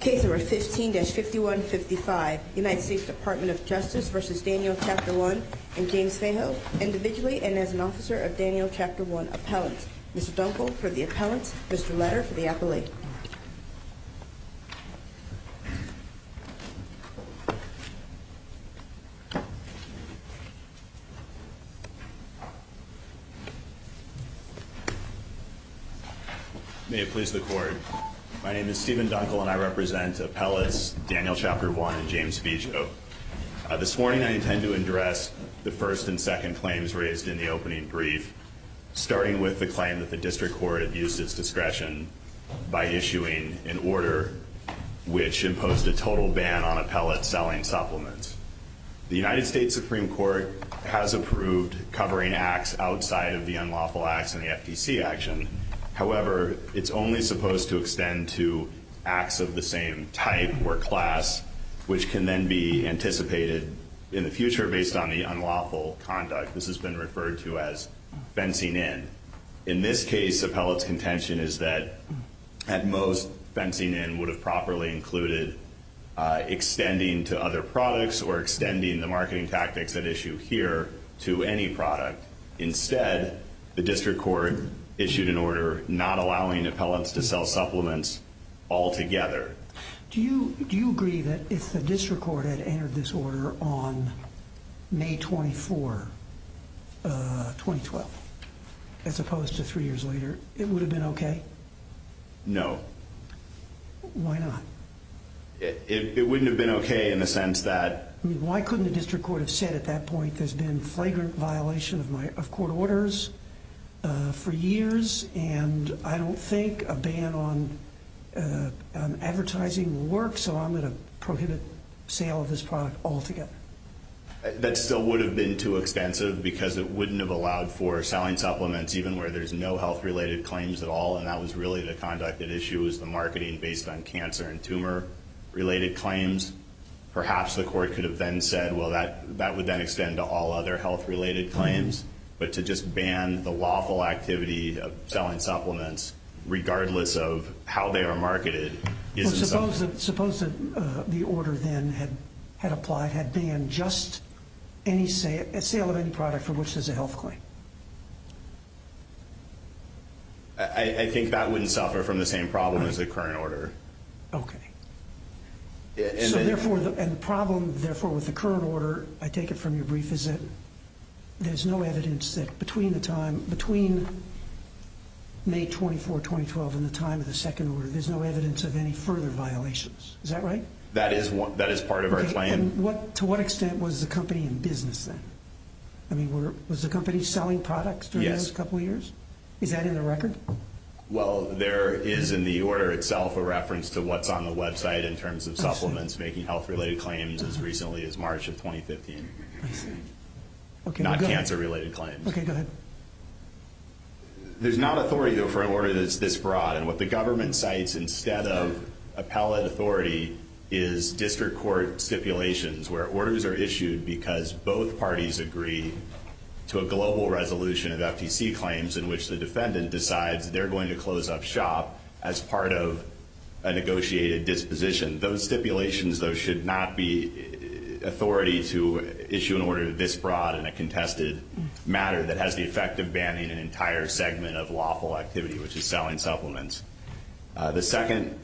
Case number 15-5155, United States Department of Justice v. Daniel Chapter One and James Fayho individually and as an officer of Daniel Chapter One appellant. Mr. Dunkel for the appellant, Mr. Letter for the appellate. May it please the court. My name is Stephen Dunkel and I represent appellates Daniel Chapter One and James Fayho. This morning I intend to address the first and second claims raised in the opening brief, starting with the claim that the district court abused its discretion by issuing an order which imposed a total ban on appellates selling supplements. The United States Supreme Court has approved covering acts outside of the unlawful acts in the FTC action. However, it's only supposed to extend to acts of the same type or class, which can then be anticipated in the future based on the unlawful conduct. This has been referred to as fencing in. In this case, appellate's contention is that, at most, fencing in would have properly included extending to other products or extending the marketing tactics at issue here to any product. Instead, the district court issued an order not allowing appellants to sell supplements altogether. Do you agree that if the district court had entered this order on May 24, 2012, as opposed to three years later, it would have been okay? No. Why not? It wouldn't have been okay in the sense that. Why couldn't the district court have said at that point there's been flagrant violation of court orders for years and I don't think a ban on advertising works, so I'm going to prohibit sale of this product altogether. That still would have been too expensive because it wouldn't have allowed for selling supplements, even where there's no health-related claims at all, and that was really the conduct at issue was the marketing based on cancer and tumor-related claims. Perhaps the court could have then said, well, that would then extend to all other health-related claims, but to just ban the lawful activity of selling supplements regardless of how they are marketed. Well, suppose that the order then had applied, had banned just a sale of any product for which there's a health claim. I think that wouldn't suffer from the same problem as the current order. Okay. And the problem, therefore, with the current order, I take it from your brief, is that there's no evidence that between May 24, 2012 and the time of the second order, there's no evidence of any further violations. Is that right? That is part of our claim. To what extent was the company in business then? I mean, was the company selling products during those couple of years? Yes. Is that in the record? Well, there is in the order itself a reference to what's on the website in terms of supplements making health-related claims as recently as March of 2015. I see. Not cancer-related claims. Okay, go ahead. There's not authority, though, for an order that's this broad, and what the government cites instead of appellate authority is district court stipulations where orders are issued because both parties agree to a global resolution of FTC claims in which the defendant decides they're going to close up shop as part of a negotiated disposition. Those stipulations, though, should not be authority to issue an order this broad in a contested matter that has the effect of banning an entire segment of lawful activity, which is selling supplements. The second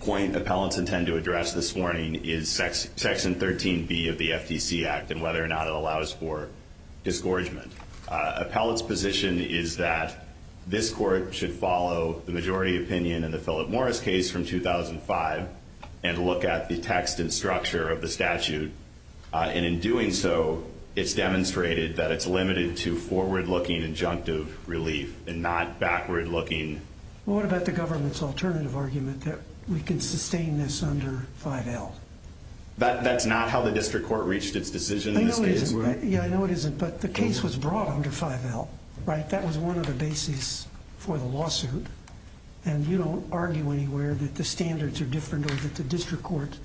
point appellants intend to address this morning is Section 13B of the FTC Act and whether or not it allows for disgorgement. Appellants' position is that this court should follow the majority opinion in the Philip Morris case from 2005 and look at the text and structure of the statute, and in doing so it's demonstrated that it's limited to forward-looking injunctive relief and not backward-looking. What about the government's alternative argument that we can sustain this under 5L? That's not how the district court reached its decision in this case. Yeah, I know it isn't, but the case was brought under 5L, right? That was one of the bases for the lawsuit, and you don't argue anywhere that the standards are different or that the district court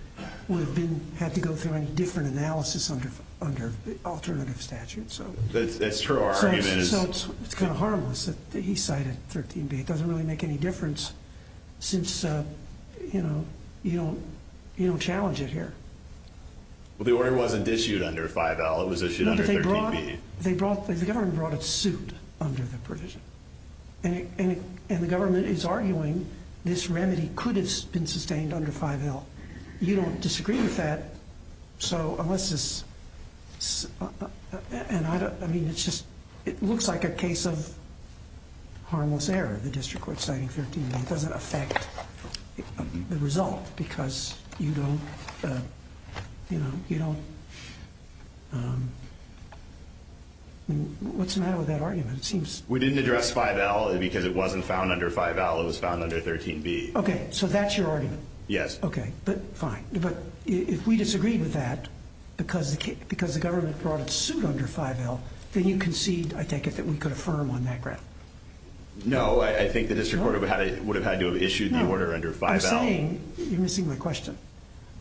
would have had to go through any different analysis under the alternative statute. That's true. So it's kind of harmless that he cited 13B. It doesn't really make any difference since, you know, you don't challenge it here. Well, the order wasn't issued under 5L. It was issued under 13B. The government brought a suit under the provision, and the government is arguing this remedy could have been sustained under 5L. You don't disagree with that. So unless this is, I mean, it looks like a case of harmless error, the district court citing 13B. It doesn't affect the result because you don't, you know, you don't. What's the matter with that argument? We didn't address 5L because it wasn't found under 5L. It was found under 13B. Okay, so that's your argument? Yes. Okay, but fine. But if we disagree with that because the government brought a suit under 5L, then you concede, I take it, that we could affirm on that ground. No, I think the district court would have had to have issued the order under 5L. No, I'm saying, you're missing my question,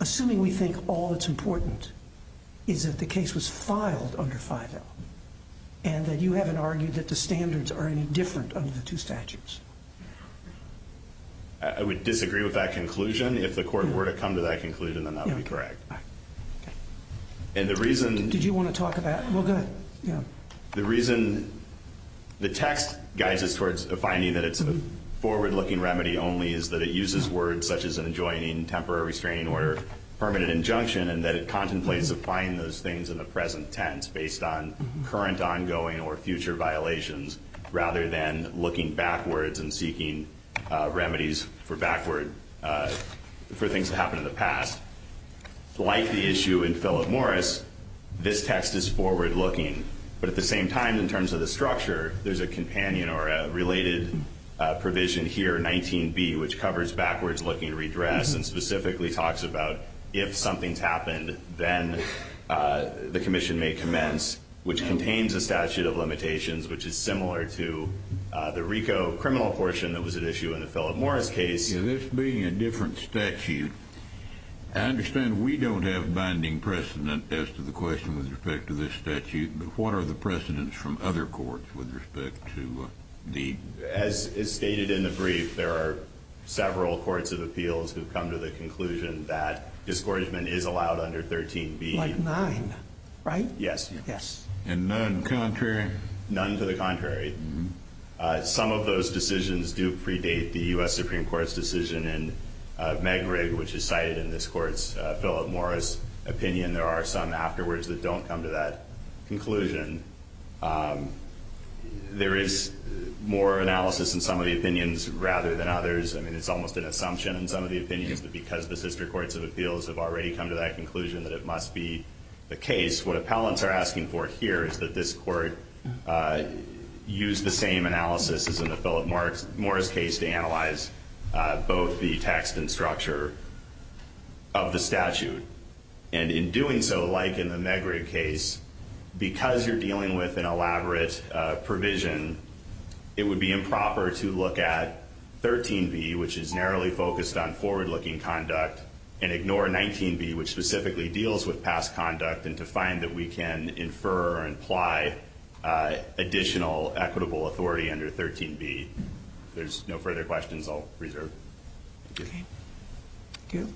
assuming we think all that's important is that the case was filed under 5L and that you haven't argued that the standards are any different under the two statutes. I would disagree with that conclusion. If the court were to come to that conclusion, then that would be correct. Okay. Did you want to talk about it? Well, go ahead. The reason the text guides us towards finding that it's a forward-looking remedy only is that it uses words such as an adjoining, temporary restraining order, permanent injunction, and that it contemplates applying those things in the present tense based on current, ongoing, or future violations rather than looking backwards and seeking remedies for things that happened in the past. Like the issue in Philip Morris, this text is forward-looking. But at the same time, in terms of the structure, there's a companion or a related provision here, 19B, which covers backwards-looking redress and specifically talks about if something's happened, then the commission may commence, which contains a statute of limitations, which is similar to the RICO criminal portion that was at issue in the Philip Morris case. Yeah, this being a different statute, I understand we don't have binding precedent as to the question with respect to this statute, but what are the precedents from other courts with respect to the... As is stated in the brief, there are several courts of appeals who have come to the conclusion that discouragement is allowed under 13B. Like 9, right? Yes. And none contrary? None to the contrary. Some of those decisions do predate the U.S. Supreme Court's decision in Megrig, which is cited in this court's Philip Morris opinion. There are some afterwards that don't come to that conclusion. There is more analysis in some of the opinions rather than others. I mean, it's almost an assumption in some of the opinions that because the sister courts of appeals have already come to that conclusion that it must be the case. What appellants are asking for here is that this court use the same analysis as in the Philip Morris case to analyze both the text and structure of the statute. And in doing so, like in the Megrig case, because you're dealing with an elaborate provision, it would be improper to look at 13B, which is narrowly focused on forward-looking conduct, and ignore 19B, which specifically deals with past conduct and to find that we can infer or imply additional equitable authority under 13B. If there's no further questions, I'll reserve. Okay. Thank you.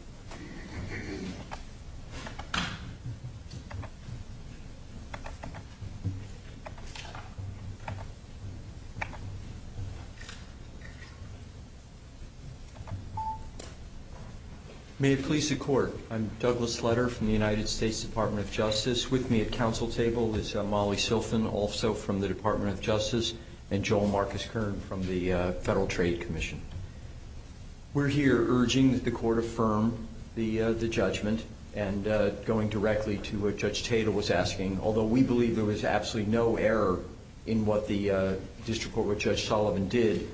May it please the Court. I'm Douglas Sletter from the United States Department of Justice. With me at council table is Molly Silfen, also from the Department of Justice, and Joel Marcus Kern from the Federal Trade Commission. We're here urging that the court affirm the judgment and going directly to what Judge Tatel was asking. Although we believe there was absolutely no error in what the district court, what Judge Sullivan did,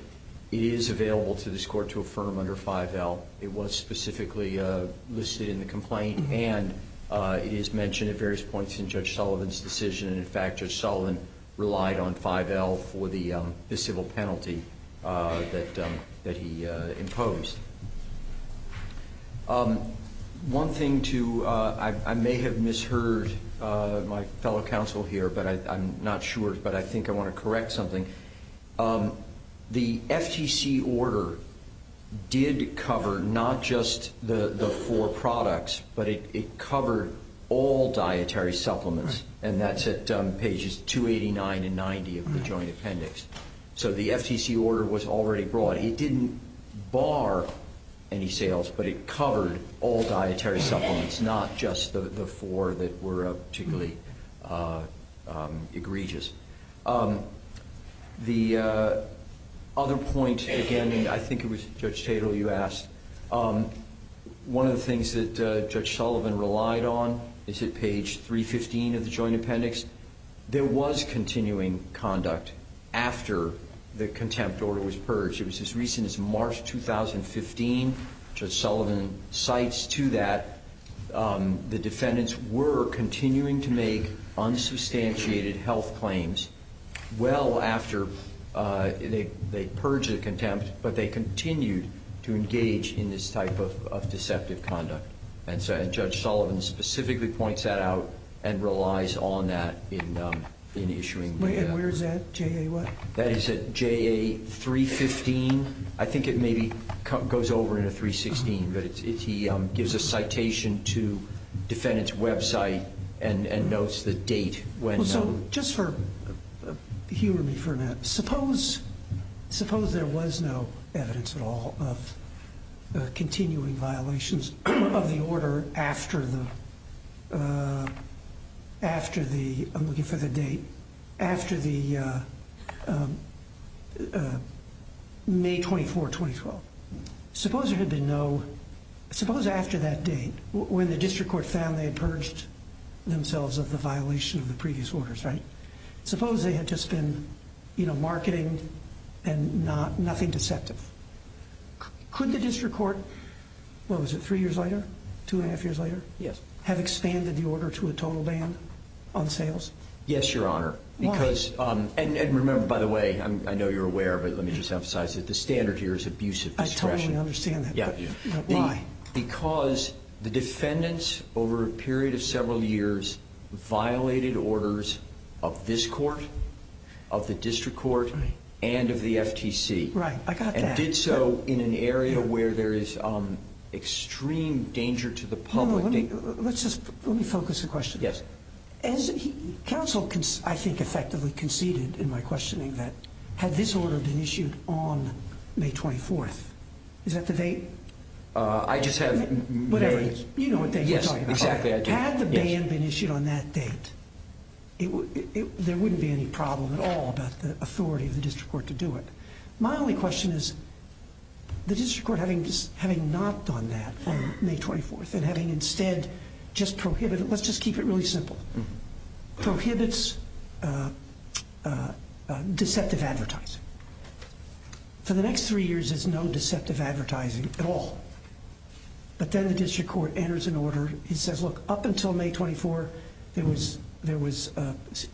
it is available to this court to affirm under 5L. It was specifically listed in the complaint, and it is mentioned at various points in Judge Sullivan's decision. In fact, Judge Sullivan relied on 5L for the civil penalty that he imposed. One thing, too, I may have misheard my fellow counsel here, but I'm not sure, but I think I want to correct something. The FTC order did cover not just the four products, but it covered all dietary supplements, and that's at pages 289 and 90 of the joint appendix. So the FTC order was already brought. It didn't bar any sales, but it covered all dietary supplements, not just the four that were particularly egregious. The other point, again, and I think it was Judge Tatel you asked, one of the things that Judge Sullivan relied on is at page 315 of the joint appendix. There was continuing conduct after the contempt order was purged. It was as recent as March 2015. Judge Sullivan cites to that the defendants were continuing to make unsubstantiated health claims well after they purged the contempt, but they continued to engage in this type of deceptive conduct. And Judge Sullivan specifically points that out and relies on that in issuing the order. And where is that, JA what? That is at JA 315. I think it maybe goes over into 316, but he gives a citation to defendants' website and notes the date when. So just for humor me for a minute, suppose there was no evidence at all of continuing violations of the order after the, I'm looking for the date, after the May 24, 2012. Suppose there had been no, suppose after that date when the district court found they had purged themselves of the violation of the previous orders, right? Suppose they had just been marketing and nothing deceptive. Could the district court, what was it, three years later, two and a half years later? Yes. Have expanded the order to a total ban on sales? Yes, Your Honor. Why? And remember, by the way, I know you're aware, but let me just emphasize that the standard here is abusive discretion. I totally understand that. Yeah. Why? Because the defendants over a period of several years violated orders of this court, of the district court, and of the FTC. Right. I got that. And did so in an area where there is extreme danger to the public. Let me focus the question. Yes. As counsel, I think, effectively conceded in my questioning that had this order been issued on May 24th, is that the date? I just have memories. You know what date we're talking about. Yes, exactly. Had the ban been issued on that date, there wouldn't be any problem at all about the authority of the district court to do it. My only question is the district court having not done that on May 24th and having instead just prohibited, let's just keep it really simple, prohibits deceptive advertising. For the next three years, there's no deceptive advertising at all. But then the district court enters an order. It says, look, up until May 24, there was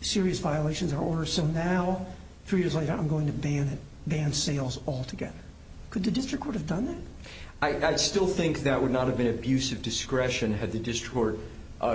serious violations of our order. So now, three years later, I'm going to ban sales altogether. Could the district court have done that? I still think that would not have been abusive discretion had the district court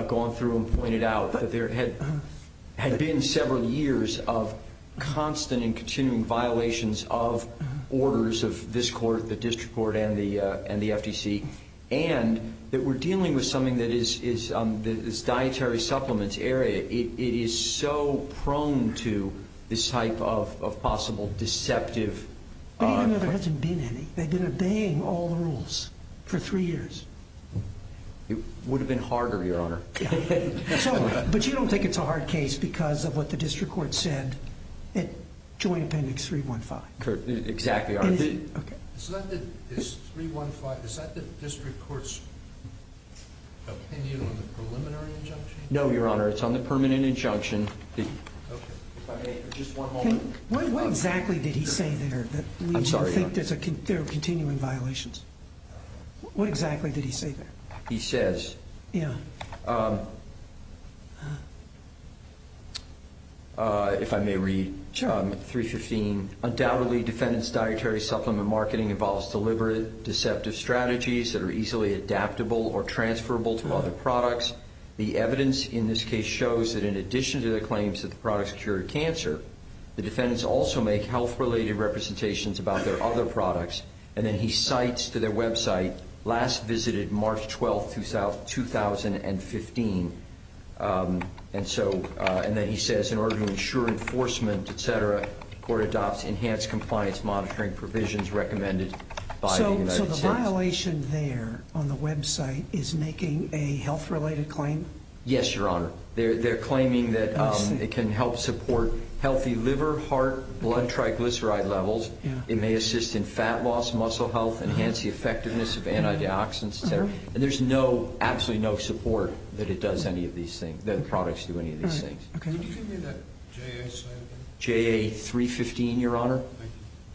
gone through and pointed out. But there had been several years of constant and continuing violations of orders of this court, the district court, and the FTC, and that we're dealing with something that is dietary supplements area. It is so prone to this type of possible deceptive. But even though there hasn't been any, they've been obeying all the rules for three years. It would have been harder, Your Honor. But you don't think it's a hard case because of what the district court said at Joint Appendix 315? Exactly, Your Honor. Is 315, is that the district court's opinion on the preliminary injunction? No, Your Honor, it's on the permanent injunction. Just one moment. What exactly did he say there that leads you to think there are continuing violations? What exactly did he say there? He says, if I may read, 315, undoubtedly defendant's dietary supplement marketing involves deliberate deceptive strategies that are easily adaptable or transferable to other products. The evidence in this case shows that in addition to the claims that the products cure cancer, the defendants also make health-related representations about their other products. And then he cites to their website, last visited March 12, 2015. And then he says, in order to ensure enforcement, et cetera, the court adopts enhanced compliance monitoring provisions recommended by the United States. So the violation there on the website is making a health-related claim? Yes, Your Honor. They're claiming that it can help support healthy liver, heart, blood triglyceride levels. It may assist in fat loss, muscle health, enhance the effectiveness of antioxidants, et cetera. And there's no, absolutely no support that it does any of these things, that the products do any of these things. Can you give me that JA slide again? JA 315, Your Honor.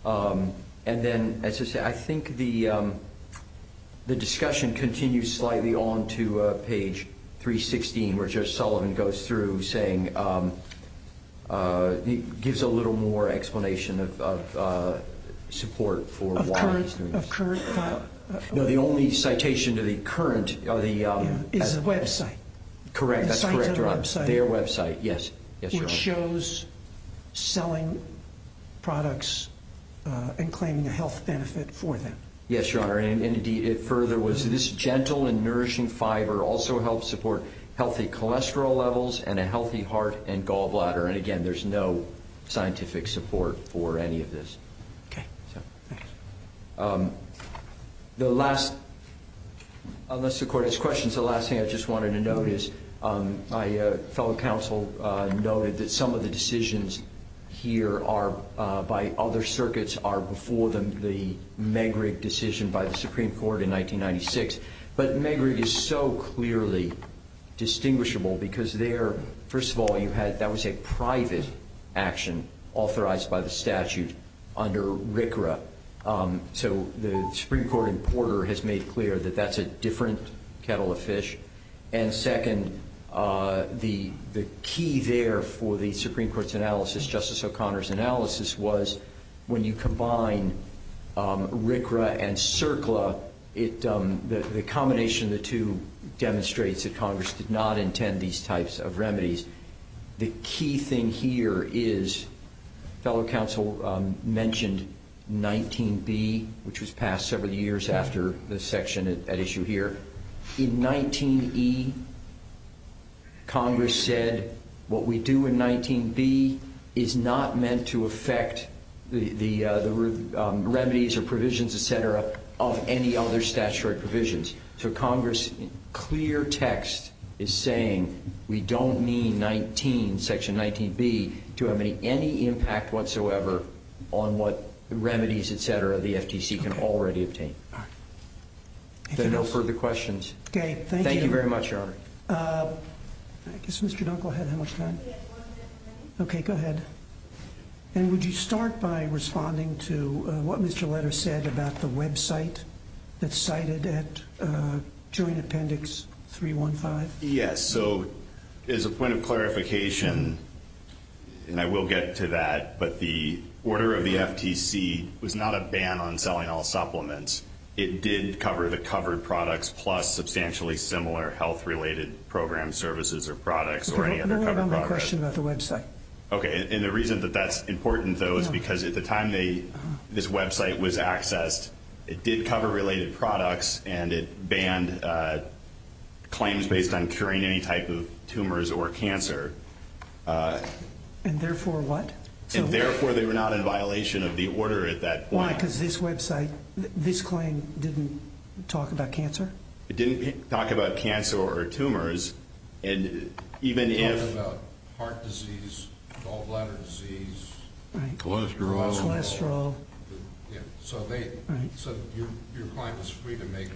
Thank you. And then, as I say, I think the discussion continues slightly on to page 316, where Judge Sullivan goes through, saying, gives a little more explanation of support for why he's doing this. Of current, of current? No, the only citation to the current is the website. Correct, that's correct, Your Honor. Cites a website. Their website, yes. Yes, Your Honor. Which shows selling products and claiming a health benefit for them. Yes, Your Honor. And, indeed, it further was, this gentle and nourishing fiber also helps support healthy cholesterol levels and a healthy heart and gallbladder. And, again, there's no scientific support for any of this. Okay, thanks. The last, unless the Court has questions, the last thing I just wanted to note is, my fellow counsel noted that some of the decisions here are, by other circuits, are before the Megrig decision by the Supreme Court in 1996. But Megrig is so clearly distinguishable because there, first of all, you had, that was a private action authorized by the statute under RCRA. So the Supreme Court importer has made clear that that's a different kettle of fish. And, second, the key there for the Supreme Court's analysis, Justice O'Connor's analysis, was when you combine RCRA and CERCLA, the combination of the two demonstrates that Congress did not intend these types of remedies. The key thing here is, fellow counsel mentioned 19B, which was passed several years after this section at issue here. In 19E, Congress said what we do in 19B is not meant to affect the remedies or provisions, et cetera, of any other statutory provisions. So Congress, in clear text, is saying we don't mean 19, section 19B, to have any impact whatsoever on what remedies, et cetera, the FTC can already obtain. All right. If there are no further questions. Okay, thank you. Thank you very much, Your Honor. I guess Mr. Dunkel had how much time? Okay, go ahead. And would you start by responding to what Mr. Letter said about the website that's cited at Joint Appendix 315? Yes. So, as a point of clarification, and I will get to that, but the order of the FTC was not a ban on selling all supplements. It did cover the covered products plus substantially similar health-related program services or products or any other covered product. Question about the website. Okay. And the reason that that's important, though, is because at the time this website was accessed, it did cover related products and it banned claims based on curing any type of tumors or cancer. And therefore what? And therefore they were not in violation of the order at that point. Why? Because this website, this claim didn't talk about cancer? It didn't talk about cancer or tumors. It talked about heart disease, gallbladder disease. Cholesterol. So your client was free to make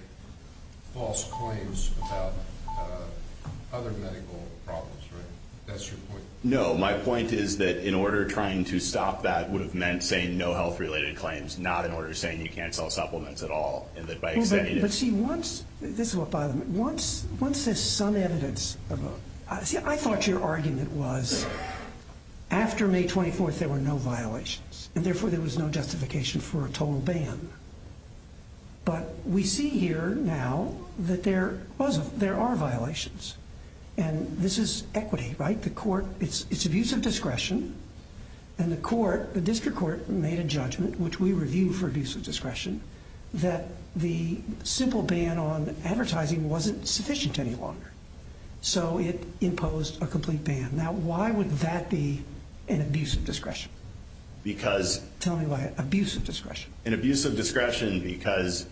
false claims about other medical problems, right? That's your point? No, my point is that in order trying to stop that would have meant saying no health-related claims, not in order saying you can't sell supplements at all. But see, this is what bothers me. Once there's some evidence, I thought your argument was after May 24th there were no violations and therefore there was no justification for a total ban. But we see here now that there are violations. And this is equity, right? It's abuse of discretion. And the court, the district court made a judgment, which we review for abuse of discretion, that the simple ban on advertising wasn't sufficient any longer. So it imposed a complete ban. Now why would that be an abuse of discretion? Because... Tell me why. Abuse of discretion. An abuse of discretion because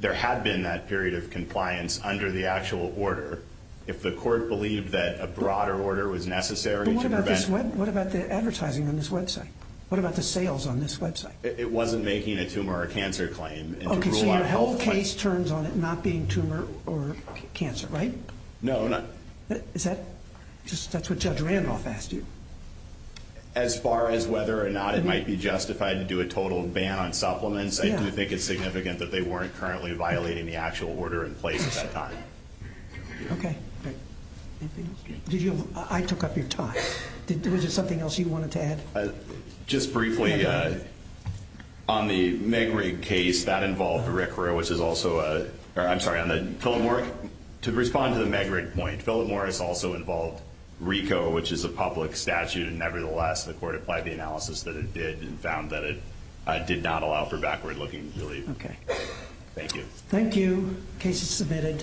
there had been that period of compliance under the actual order. If the court believed that a broader order was necessary to prevent... What about the advertising on this website? What about the sales on this website? It wasn't making a tumor or cancer claim. Okay, so your health case turns on it not being tumor or cancer, right? No, not... That's what Judge Randolph asked you. As far as whether or not it might be justified to do a total ban on supplements, I do think it's significant that they weren't currently violating the actual order in place at that time. Okay. Anything else? I took up your time. Was there something else you wanted to add? Just briefly, on the Megrig case, that involved RCRA, which is also a... I'm sorry, on the Philip Morris... To respond to the Megrig point, Philip Morris also involved RICO, which is a public statute, and nevertheless the court applied the analysis that it did and found that it did not allow for backward-looking relief. Okay. Thank you. Thank you. Case is submitted.